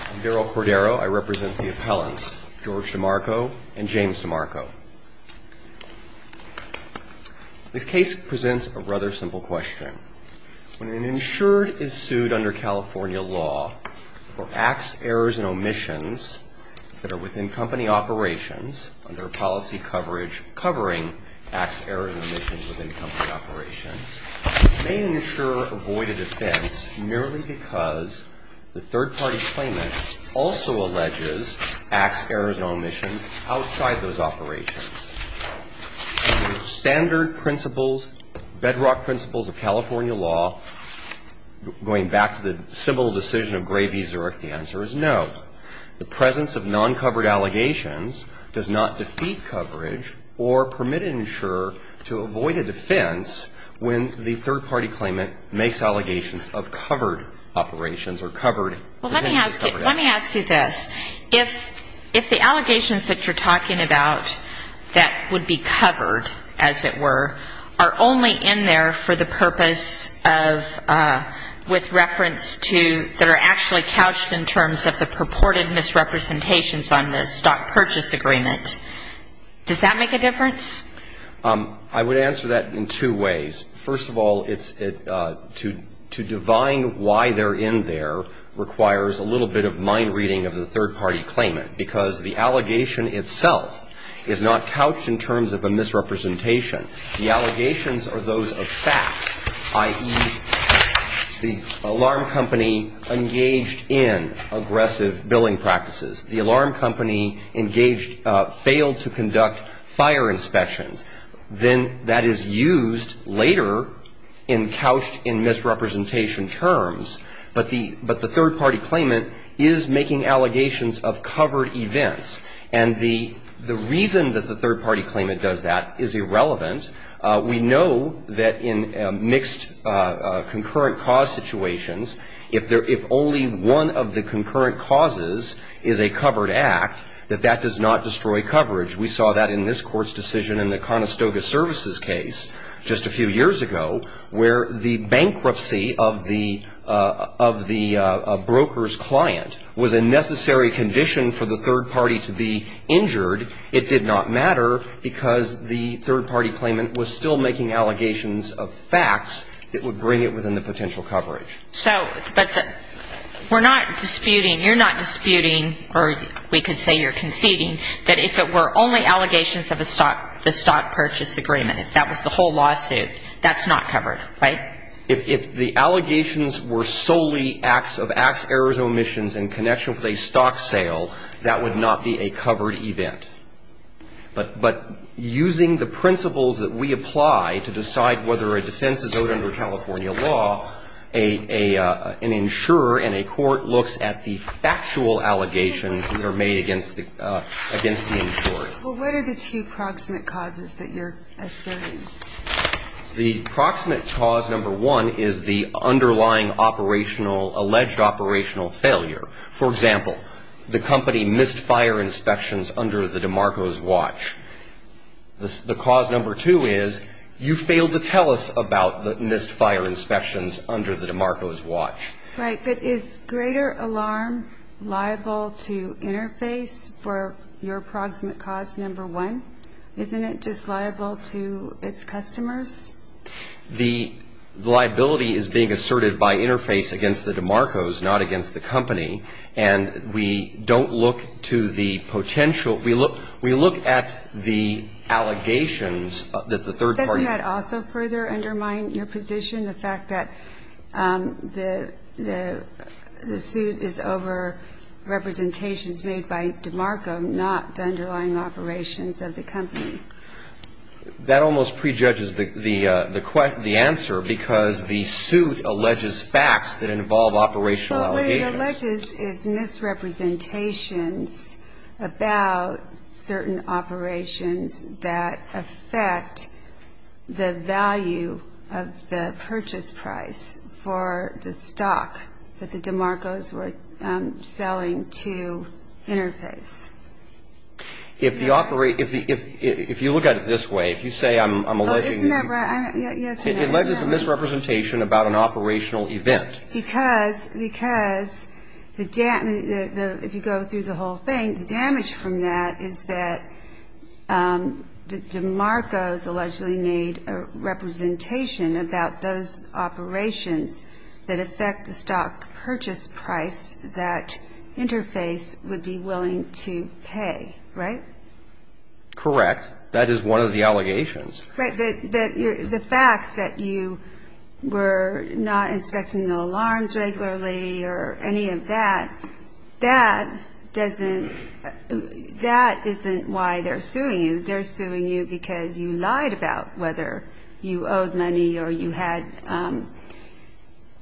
I'm Darrell Cordero. I represent the appellants, George DeMarco and James DeMarco. This case presents a rather simple question. When an insured is sued under California law for acts, errors, and omissions that are within company operations under policy coverage covering acts, errors, and omissions within company operations, may an insurer avoid a defense merely because the third-party claimant also alleges acts, errors, and omissions outside those operations. Under standard principles, bedrock principles of California law, going back to the simple decision of Gray v. Zurich, the answer is no. The presence of non-covered allegations does not defeat coverage or permit an insurer to avoid a defense when the third-party claimant makes allegations of covered operations or covered. Well, let me ask you this. If the allegations that you're talking about that would be covered, as it were, are only in there for the purpose of, with reference to, that are actually couched in terms of the purported misrepresentations on the stock purchase agreement, does that make a difference? I would answer that in two ways. First of all, to divine why they're in there requires a little bit of mind reading of the third-party claimant, because the allegation itself is not couched in terms of a misrepresentation. The allegations are those of facts, i.e., the alarm company engaged in aggressive billing practices. The alarm company engaged failed to conduct fire inspections. Then that is used later in couched in misrepresentation terms. But the third-party claimant is making allegations of covered events. And the reason that the third-party claimant does that is irrelevant. We know that in mixed concurrent cause situations, if only one of the concurrent causes is a covered act, that that does not destroy coverage. We saw that in this Court's decision in the Conestoga Services case just a few years ago, where the bankruptcy of the broker's client was a necessary condition for the third party to be injured. It did not matter because the third-party claimant was still making allegations of facts that would bring it within the potential coverage. So, but we're not disputing, you're not disputing, or we could say you're conceding, that if it were only allegations of a stock purchase agreement, if that was the whole lawsuit, that's not covered, right? If the allegations were solely acts of acts, errors, or omissions in connection with a stock sale, that would not be a covered event. But using the principles that we apply to decide whether a defense is owed under California law, a third-party claimant is not owed under California law. And so that's why an insurer in a court looks at the factual allegations that are made against the insurer. Well, what are the two proximate causes that you're asserting? The proximate cause number one is the underlying operational, alleged operational failure. For example, the company missed fire inspections on the DeMarcos watch. Right. But is greater alarm liable to Interface for your proximate cause number one? Isn't it just liable to its customers? The liability is being asserted by Interface against the DeMarcos, not against the company. And we don't look to the potential. We look at the allegations that the third party made. Doesn't that also further undermine your position, the fact that the suit is over representations made by DeMarco, not the underlying operations of the company? That almost prejudges the answer, because the suit alleges facts that involve operational allegations. It alleges it's misrepresentations about certain operations that affect the value of the purchase price for the stock that the DeMarcos were selling to Interface. If you look at it this way, if you say I'm alleging... It alleges a misrepresentation about an operational event. Because if you go through the whole thing, the damage from that is that the DeMarcos allegedly made a representation about those operations that affect the stock purchase price that Interface would be willing to pay, right? Correct. That is one of the allegations. Right. But the fact that you were not inspecting the alarms regularly or any of that, that doesn't – that isn't why they're suing you. They're suing you because you lied about whether you owed money or you had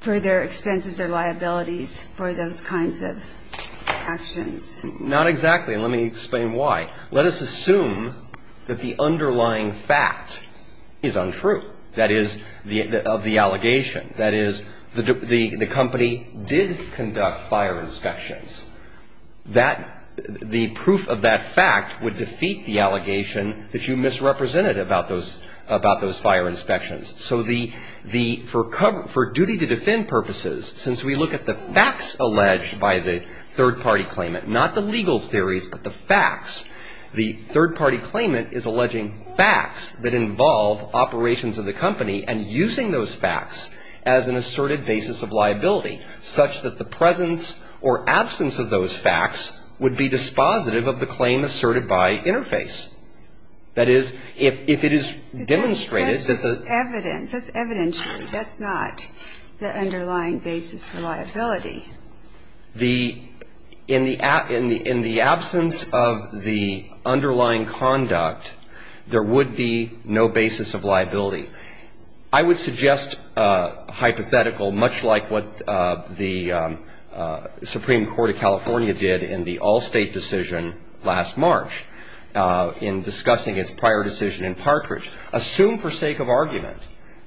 further expenses or liabilities for those kinds of actions. Not exactly, and let me explain why. Let us assume that the underlying fact is untrue, that is, of the allegation. That is, the company did conduct fire inspections. That – the proof of that fact would defeat the allegation that you misrepresented about those fire inspections. So the – for duty to defend purposes, since we look at the facts alleged by the third-party claimant, not the legal theories, but the facts, the third-party claimant is alleging facts that involve operations of the company and using those facts as an asserted basis of liability, such that the presence or absence of those facts would be dispositive of the claim asserted by Interface. That is, if it is demonstrated that the – But that's just evidence. That's evidentiary. That's not the underlying basis for liability. The – in the absence of the underlying conduct, there would be no basis of liability. I would suggest hypothetical, much like what the Supreme Court of California did in the all-state decision last March. In discussing its prior decision in Partridge, assume for sake of argument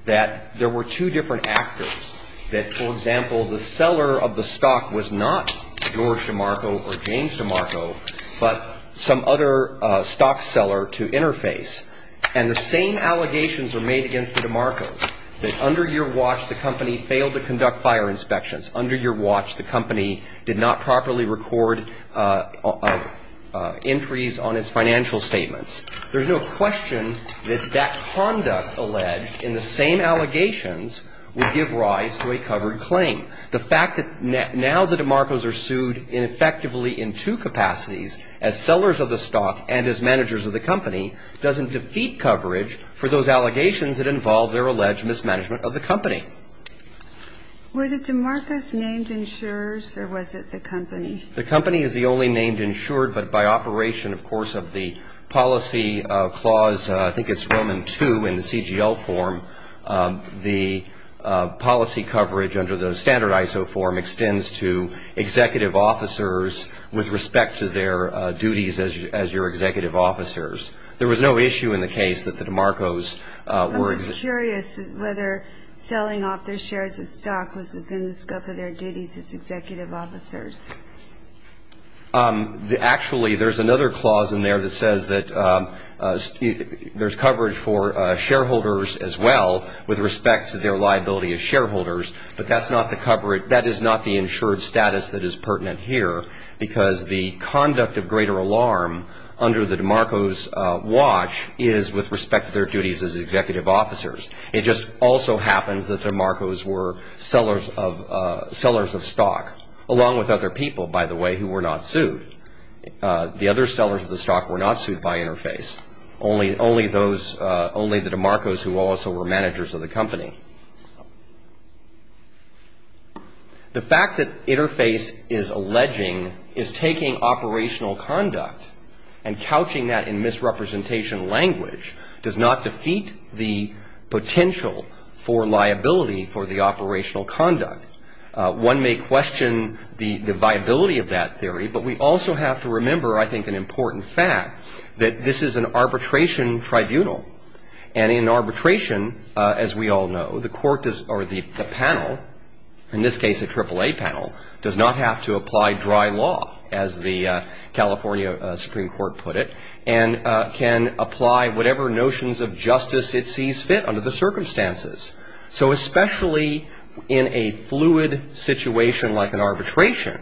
that there were two different actors, that, for example, the seller of the stock was not George DeMarco or James DeMarco, but some other stock seller to Interface. And the same allegations are made against DeMarco, that under your watch, the company failed to conduct fire inspections. Under your watch, the company did not properly record entries on its financial statements. There's no question that that conduct alleged in the same allegations would give rise to a covered claim. The fact that now the DeMarcos are sued effectively in two capacities, as sellers of the stock and as managers of the company, doesn't defeat coverage for those allegations that involve their alleged mismanagement of the company. Were the DeMarcos named insurers or was it the company? The company is the only name insured, but by operation, of course, of the policy clause, I think it's Roman 2 in the CGL form, the policy coverage under the standard ISO form extends to executive officers with respect to their duties as your executive officers. There was no issue in the case that the DeMarcos were executive officers. I'm curious whether selling off their shares of stock was within the scope of their duties as executive officers. Actually, there's another clause in there that says that there's coverage for shareholders as well with respect to their liability as shareholders, but that is not the insured status that is pertinent here because the conduct of greater alarm under the DeMarcos watch is with respect to their duties as executive officers. It just also happens that DeMarcos were sellers of stock along with other people, by the way, who were not sued. The other sellers of the stock were not sued by Interface, only the DeMarcos who also were managers of the company. The fact that Interface is alleging is taking operational conduct and couching that in misrepresentation language does not defeat the potential for liability for the operational conduct. One may question the viability of that theory, but we also have to remember, I think, an important fact that this is an arbitration tribunal, and in arbitration, as we all know, the panel, in this case a AAA panel, does not have to apply dry law, as the California Supreme Court put it, and can apply whatever notions of justice it sees fit under the circumstances. So especially in a fluid situation like an arbitration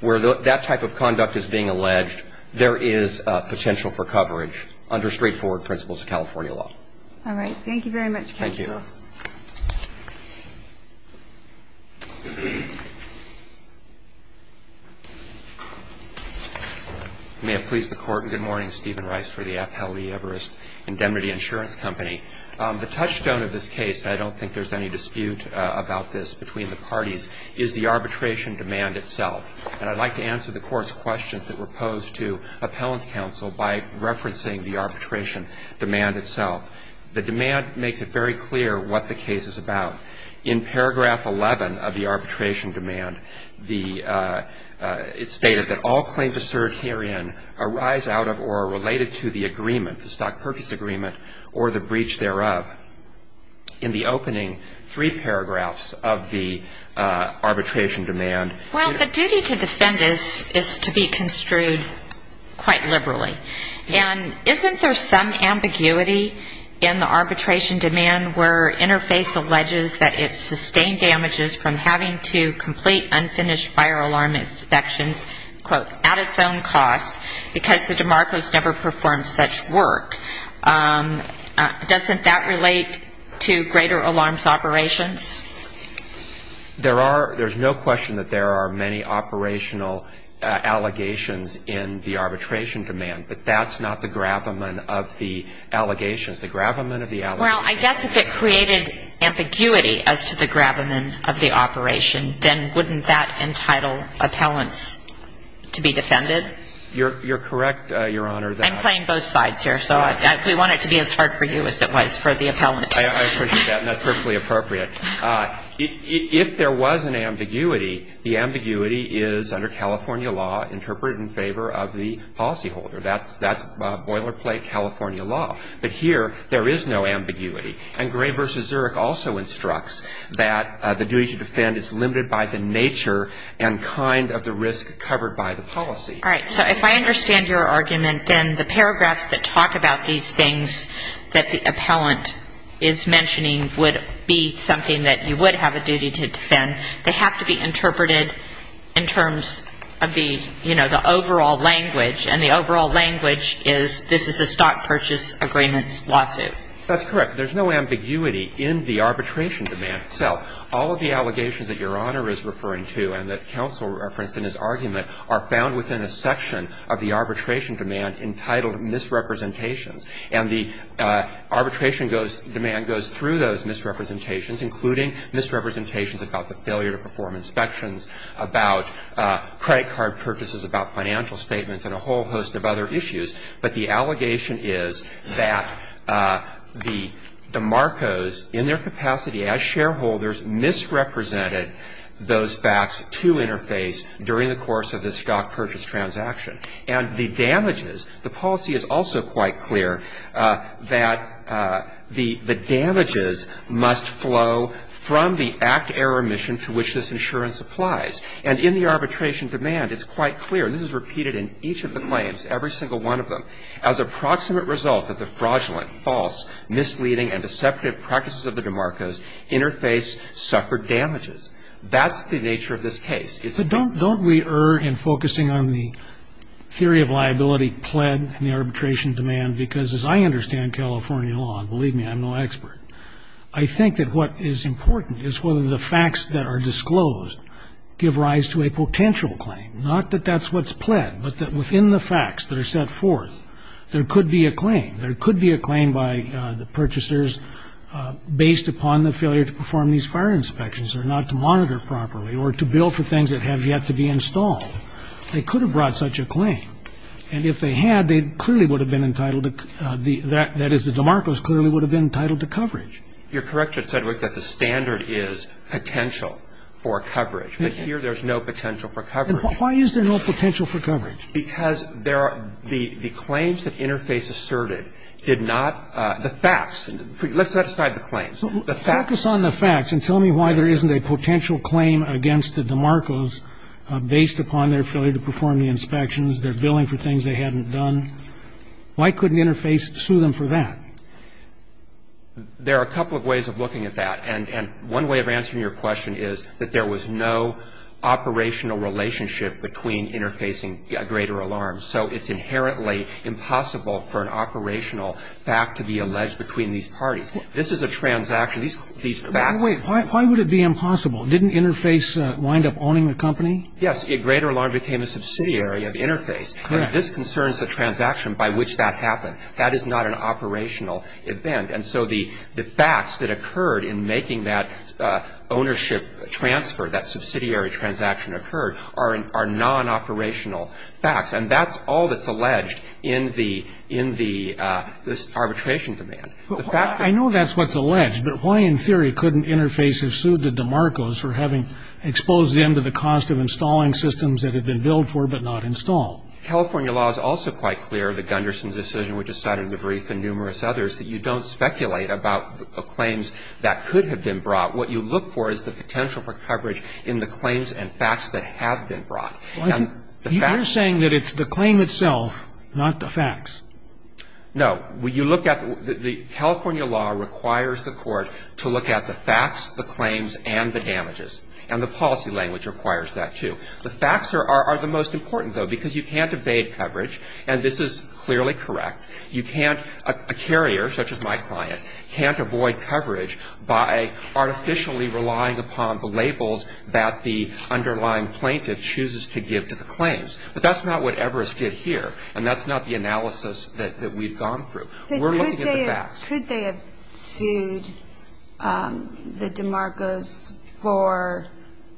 where that type of conduct is being alleged, there is potential for coverage under straightforward principles of California law. Thank you very much, counsel. May it please the Court, and good morning. Stephen Rice for the Appellee Everest Indemnity Insurance Company. The touchstone of this case, and I don't think there's any dispute about this between the parties, is the arbitration demand itself. And I'd like to answer the Court's questions that were posed to appellants' counsel by referencing the arbitration demand itself. The demand makes it very clear what the case is about. In paragraph 11 of the arbitration demand, it's stated that all claims to cert herein arise out of or are related to the agreement, the stock purchase agreement, or the breach thereof. In the opening three paragraphs of the arbitration demand. Well, the duty to defend is to be construed quite liberally. And isn't there some ambiguity in the arbitration demand where Interface alleges that it sustained damages from having to complete unfinished fire alarm inspections, quote, at its own cost, because the demarcos never performed such work? Doesn't that relate to greater alarms operations? There's no question that there are many operational allegations in the arbitration demand. But that's not the gravamen of the allegations. Well, I guess if it created ambiguity as to the gravamen of the operation, then wouldn't that entitle appellants to be defended? You're correct, Your Honor. I'm playing both sides here, so we want it to be as hard for you as it was for the appellant. I appreciate that, and that's perfectly appropriate. If there was an ambiguity, the ambiguity is under California law interpreted in favor of the policyholder. That's boilerplate California law. But here there is no ambiguity. And Gray v. Zurich also instructs that the duty to defend is limited by the nature and kind of the risk covered by the policy. All right. So if I understand your argument, then the paragraphs that talk about these things that the appellant is mentioning would be something that you would have a duty to defend. They have to be interpreted in terms of the, you know, the overall language, and the overall language is this is a stock purchase agreements lawsuit. That's correct. There's no ambiguity in the arbitration demand itself. All of the allegations that Your Honor is referring to and that counsel referenced in his argument are found within a section of the arbitration demand entitled misrepresentations. And the arbitration goes, demand goes through those misrepresentations, including misrepresentations about the failure to perform inspections, about credit card purchases, about financial statements, and a whole host of other issues. But the allegation is that the Marcos, in their capacity as shareholders, misrepresented those facts to interface during the course of the stock purchase transaction. And the damages, the policy is also quite clear that the damages must flow from the act error mission to which this insurance applies. And in the arbitration demand, it's quite clear, and this is repeated in each of the claims, every single one of them, as a proximate result that the fraudulent, false, misleading and deceptive practices of the DeMarcos interface suffered damages. That's the nature of this case. It's the case. But don't we err in focusing on the theory of liability pled in the arbitration demand, because as I understand California law, and believe me, I'm no expert, I think that what is important is whether the facts that are disclosed give rise to a potential claim. Not that that's what's pled, but that within the facts that are set forth, there could be a claim. There could be a claim by the purchasers based upon the failure to perform these fire inspections or not to monitor properly or to bill for things that have yet to be installed. They could have brought such a claim. And if they had, they clearly would have been entitled to the, that is, the DeMarcos clearly would have been entitled to coverage. You're correct, Judge Sedgwick, that the standard is potential for coverage. But here there's no potential for coverage. Why is there no potential for coverage? Because there are, the claims that interface asserted did not, the facts, let's set aside the claims. The facts. Focus on the facts and tell me why there isn't a potential claim against the DeMarcos based upon their failure to perform the inspections, their billing for things they hadn't done. Why couldn't interface sue them for that? There are a couple of ways of looking at that. And one way of answering your question is that there was no operational relationship between interfacing greater alarms. So it's inherently impossible for an operational fact to be alleged between these parties. This is a transaction. These facts. Wait. Why would it be impossible? Didn't interface wind up owning the company? Yes. Greater alarm became a subsidiary of interface. Correct. And this concerns the transaction by which that happened. That is not an operational event. And so the facts that occurred in making that ownership transfer, that subsidiary transaction occurred, are non-operational facts. And that's all that's alleged in the, in the, this arbitration demand. I know that's what's alleged, but why in theory couldn't interface have sued the DeMarcos for having exposed them to the cost of installing systems that had been billed for but not installed? California law is also quite clear of the Gunderson decision, which is cited in the brief and numerous others, that you don't speculate about claims that could have been brought. What you look for is the potential for coverage in the claims and facts that have been brought. No. You look at, the California law requires the court to look at the facts, the claims, and the damages. And the policy language requires that, too. The facts are the most important, though, because you can't evade coverage. And this is clearly correct. You can't, a carrier, such as my client, can't avoid coverage by artificially relying upon the labels that the underlying plaintiff chooses to give to the claims. But that's not what Everest did here. And that's not the analysis that we've gone through. We're looking at the facts. Could they have sued the DeMarcos for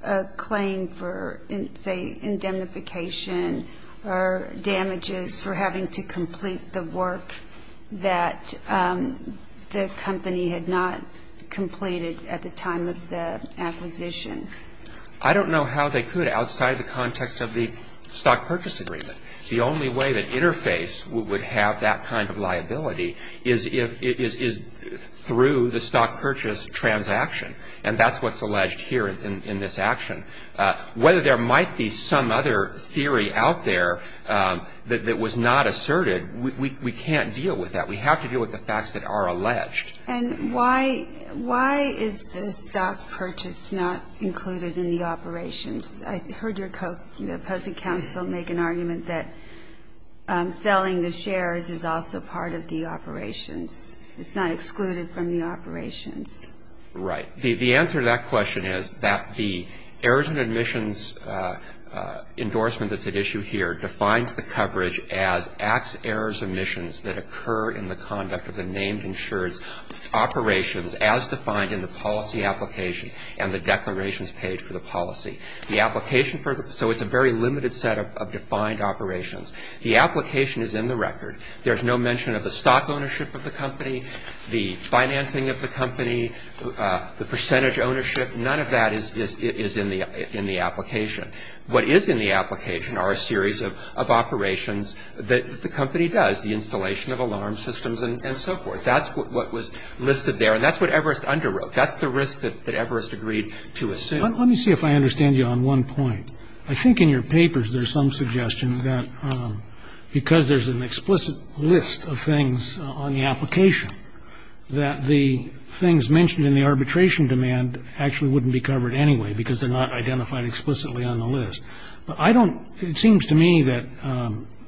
a claim for, say, indemnification or damages for having to complete the work that the company had not completed at the time of the acquisition? I don't know how they could outside the context of the stock purchase agreement. The only way that Interface would have that kind of liability is if it is through the stock purchase transaction. And that's what's alleged here in this action. Whether there might be some other theory out there that was not asserted, we can't deal with that. We have to deal with the facts that are alleged. And why is the stock purchase not included in the operations? I heard your opposing counsel make an argument that selling the shares is also part of the operations. It's not excluded from the operations. Right. The answer to that question is that the errors and admissions endorsement that's at issue here defines the coverage as acts, errors, or missions that occur in the conduct of the named insured's operations as defined in the policy application and the declarations page for the policy. The application for the – so it's a very limited set of defined operations. The application is in the record. There's no mention of the stock ownership of the company, the financing of the company, the percentage ownership. None of that is in the application. What is in the application are a series of operations that the company does, the installation of alarm systems and so forth. That's what was listed there. And that's what Everest underwrote. That's the risk that Everest agreed to assume. Let me see if I understand you on one point. I think in your papers there's some suggestion that because there's an explicit list of things on the application, that the things mentioned in the arbitration demand actually wouldn't be covered anyway because they're not identified explicitly on the list. But I don't – it seems to me that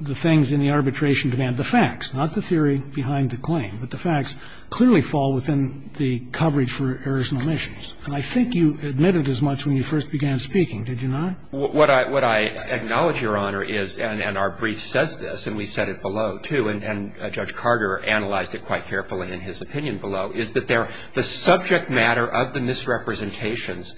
the things in the arbitration demand, the facts, not the theory behind the claim, but the facts clearly fall within the coverage for errors and omissions. And I think you admitted as much when you first began speaking, did you not? What I acknowledge, Your Honor, is, and our brief says this, and we said it below, too, and Judge Carter analyzed it quite carefully in his opinion below, is that the subject matter of the misrepresentations,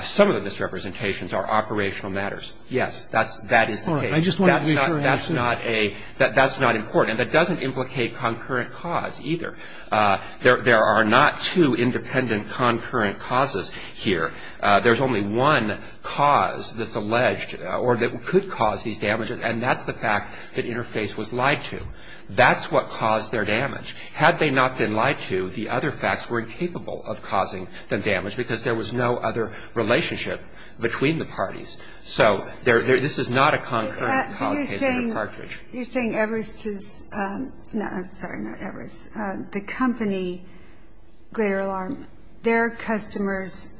some of the misrepresentations are operational matters. Yes, that is the case. That's not important. And that doesn't implicate concurrent cause either. There are not two independent concurrent causes here. There's only one cause that's alleged or that could cause these damages, and that's the fact that Interface was lied to. That's what caused their damage. Had they not been lied to, the other facts were incapable of causing them damage because there was no other relationship between the parties. So there – this is not a concurrent cause case in the cartridge. You're saying Everest's – no, I'm sorry, not Everest. The company, Greater Alarm, their customers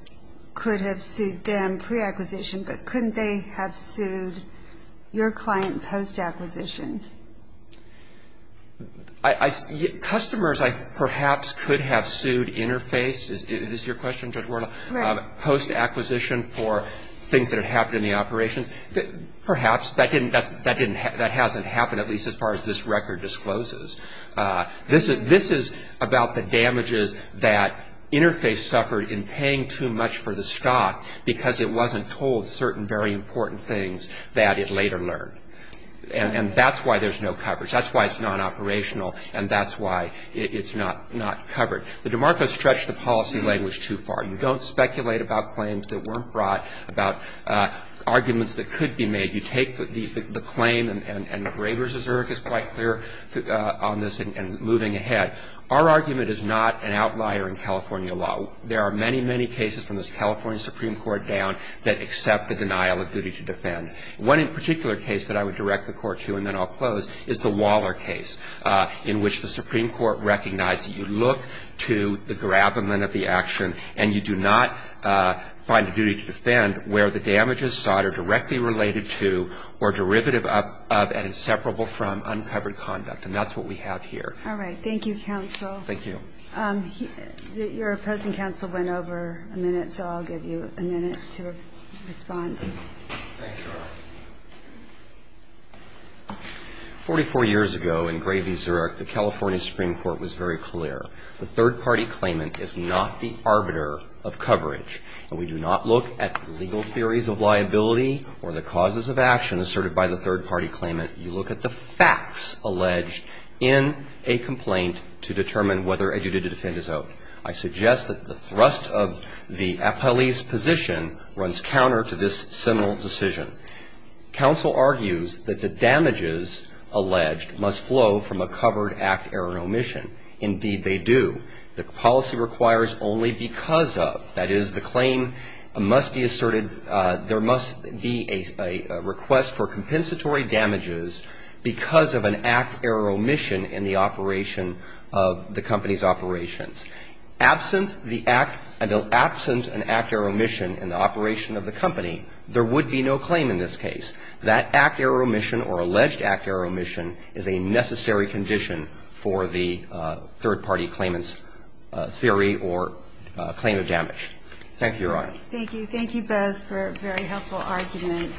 could have sued them pre-acquisition, but couldn't they have sued your client post-acquisition? Customers perhaps could have sued Interface. Is this your question, Judge Warnell? Right. Post-acquisition for things that had happened in the operations. Perhaps. That didn't – that hasn't happened, at least as far as this record discloses. This is about the damages that Interface suffered in paying too much for the stock because it wasn't told certain very important things that it later learned. And that's why there's no coverage. That's why it's non-operational, and that's why it's not covered. The DeMarco stretched the policy language too far. You don't speculate about claims that weren't brought, about arguments that could be made. You take the claim, and Graber's Zurich is quite clear on this and moving ahead. Our argument is not an outlier in California law. There are many, many cases from this California Supreme Court down that accept the denial of duty to defend. One in particular case that I would direct the Court to, and then I'll close, is the Waller case in which the Supreme Court recognized that you look to the gravamen of the action, and you do not find a duty to defend where the damages sought are directly related to or derivative of and inseparable from uncovered conduct. And that's what we have here. All right. Thank you, counsel. Thank you. Your opposing counsel went over a minute, so I'll give you a minute to respond. 44 years ago in Graber's Zurich, the California Supreme Court was very clear. The third-party claimant is not the arbiter of coverage. And we do not look at legal theories of liability or the causes of action asserted by the third-party claimant. You look at the facts alleged in a complaint to determine whether a duty to defend is owed. I suggest that the thrust of the appellee's position runs counter to this Supreme Court's seminal decision. Counsel argues that the damages alleged must flow from a covered act error omission. Indeed, they do. The policy requires only because of. That is, the claim must be asserted, there must be a request for compensatory damages because of an act error omission in the operation of the company's operations. Absent the act, and absent an act error omission in the operation of the company, there would be no claim in this case. That act error omission or alleged act error omission is a necessary condition for the third-party claimant's theory or claim of damage. Thank you, Your Honor. Thank you. Thank you both for a very helpful argument.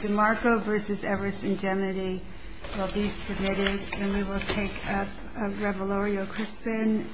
DeMarco v. Everest Indemnity will be submitted. And we will take up Revolorio Crispin v. Holder.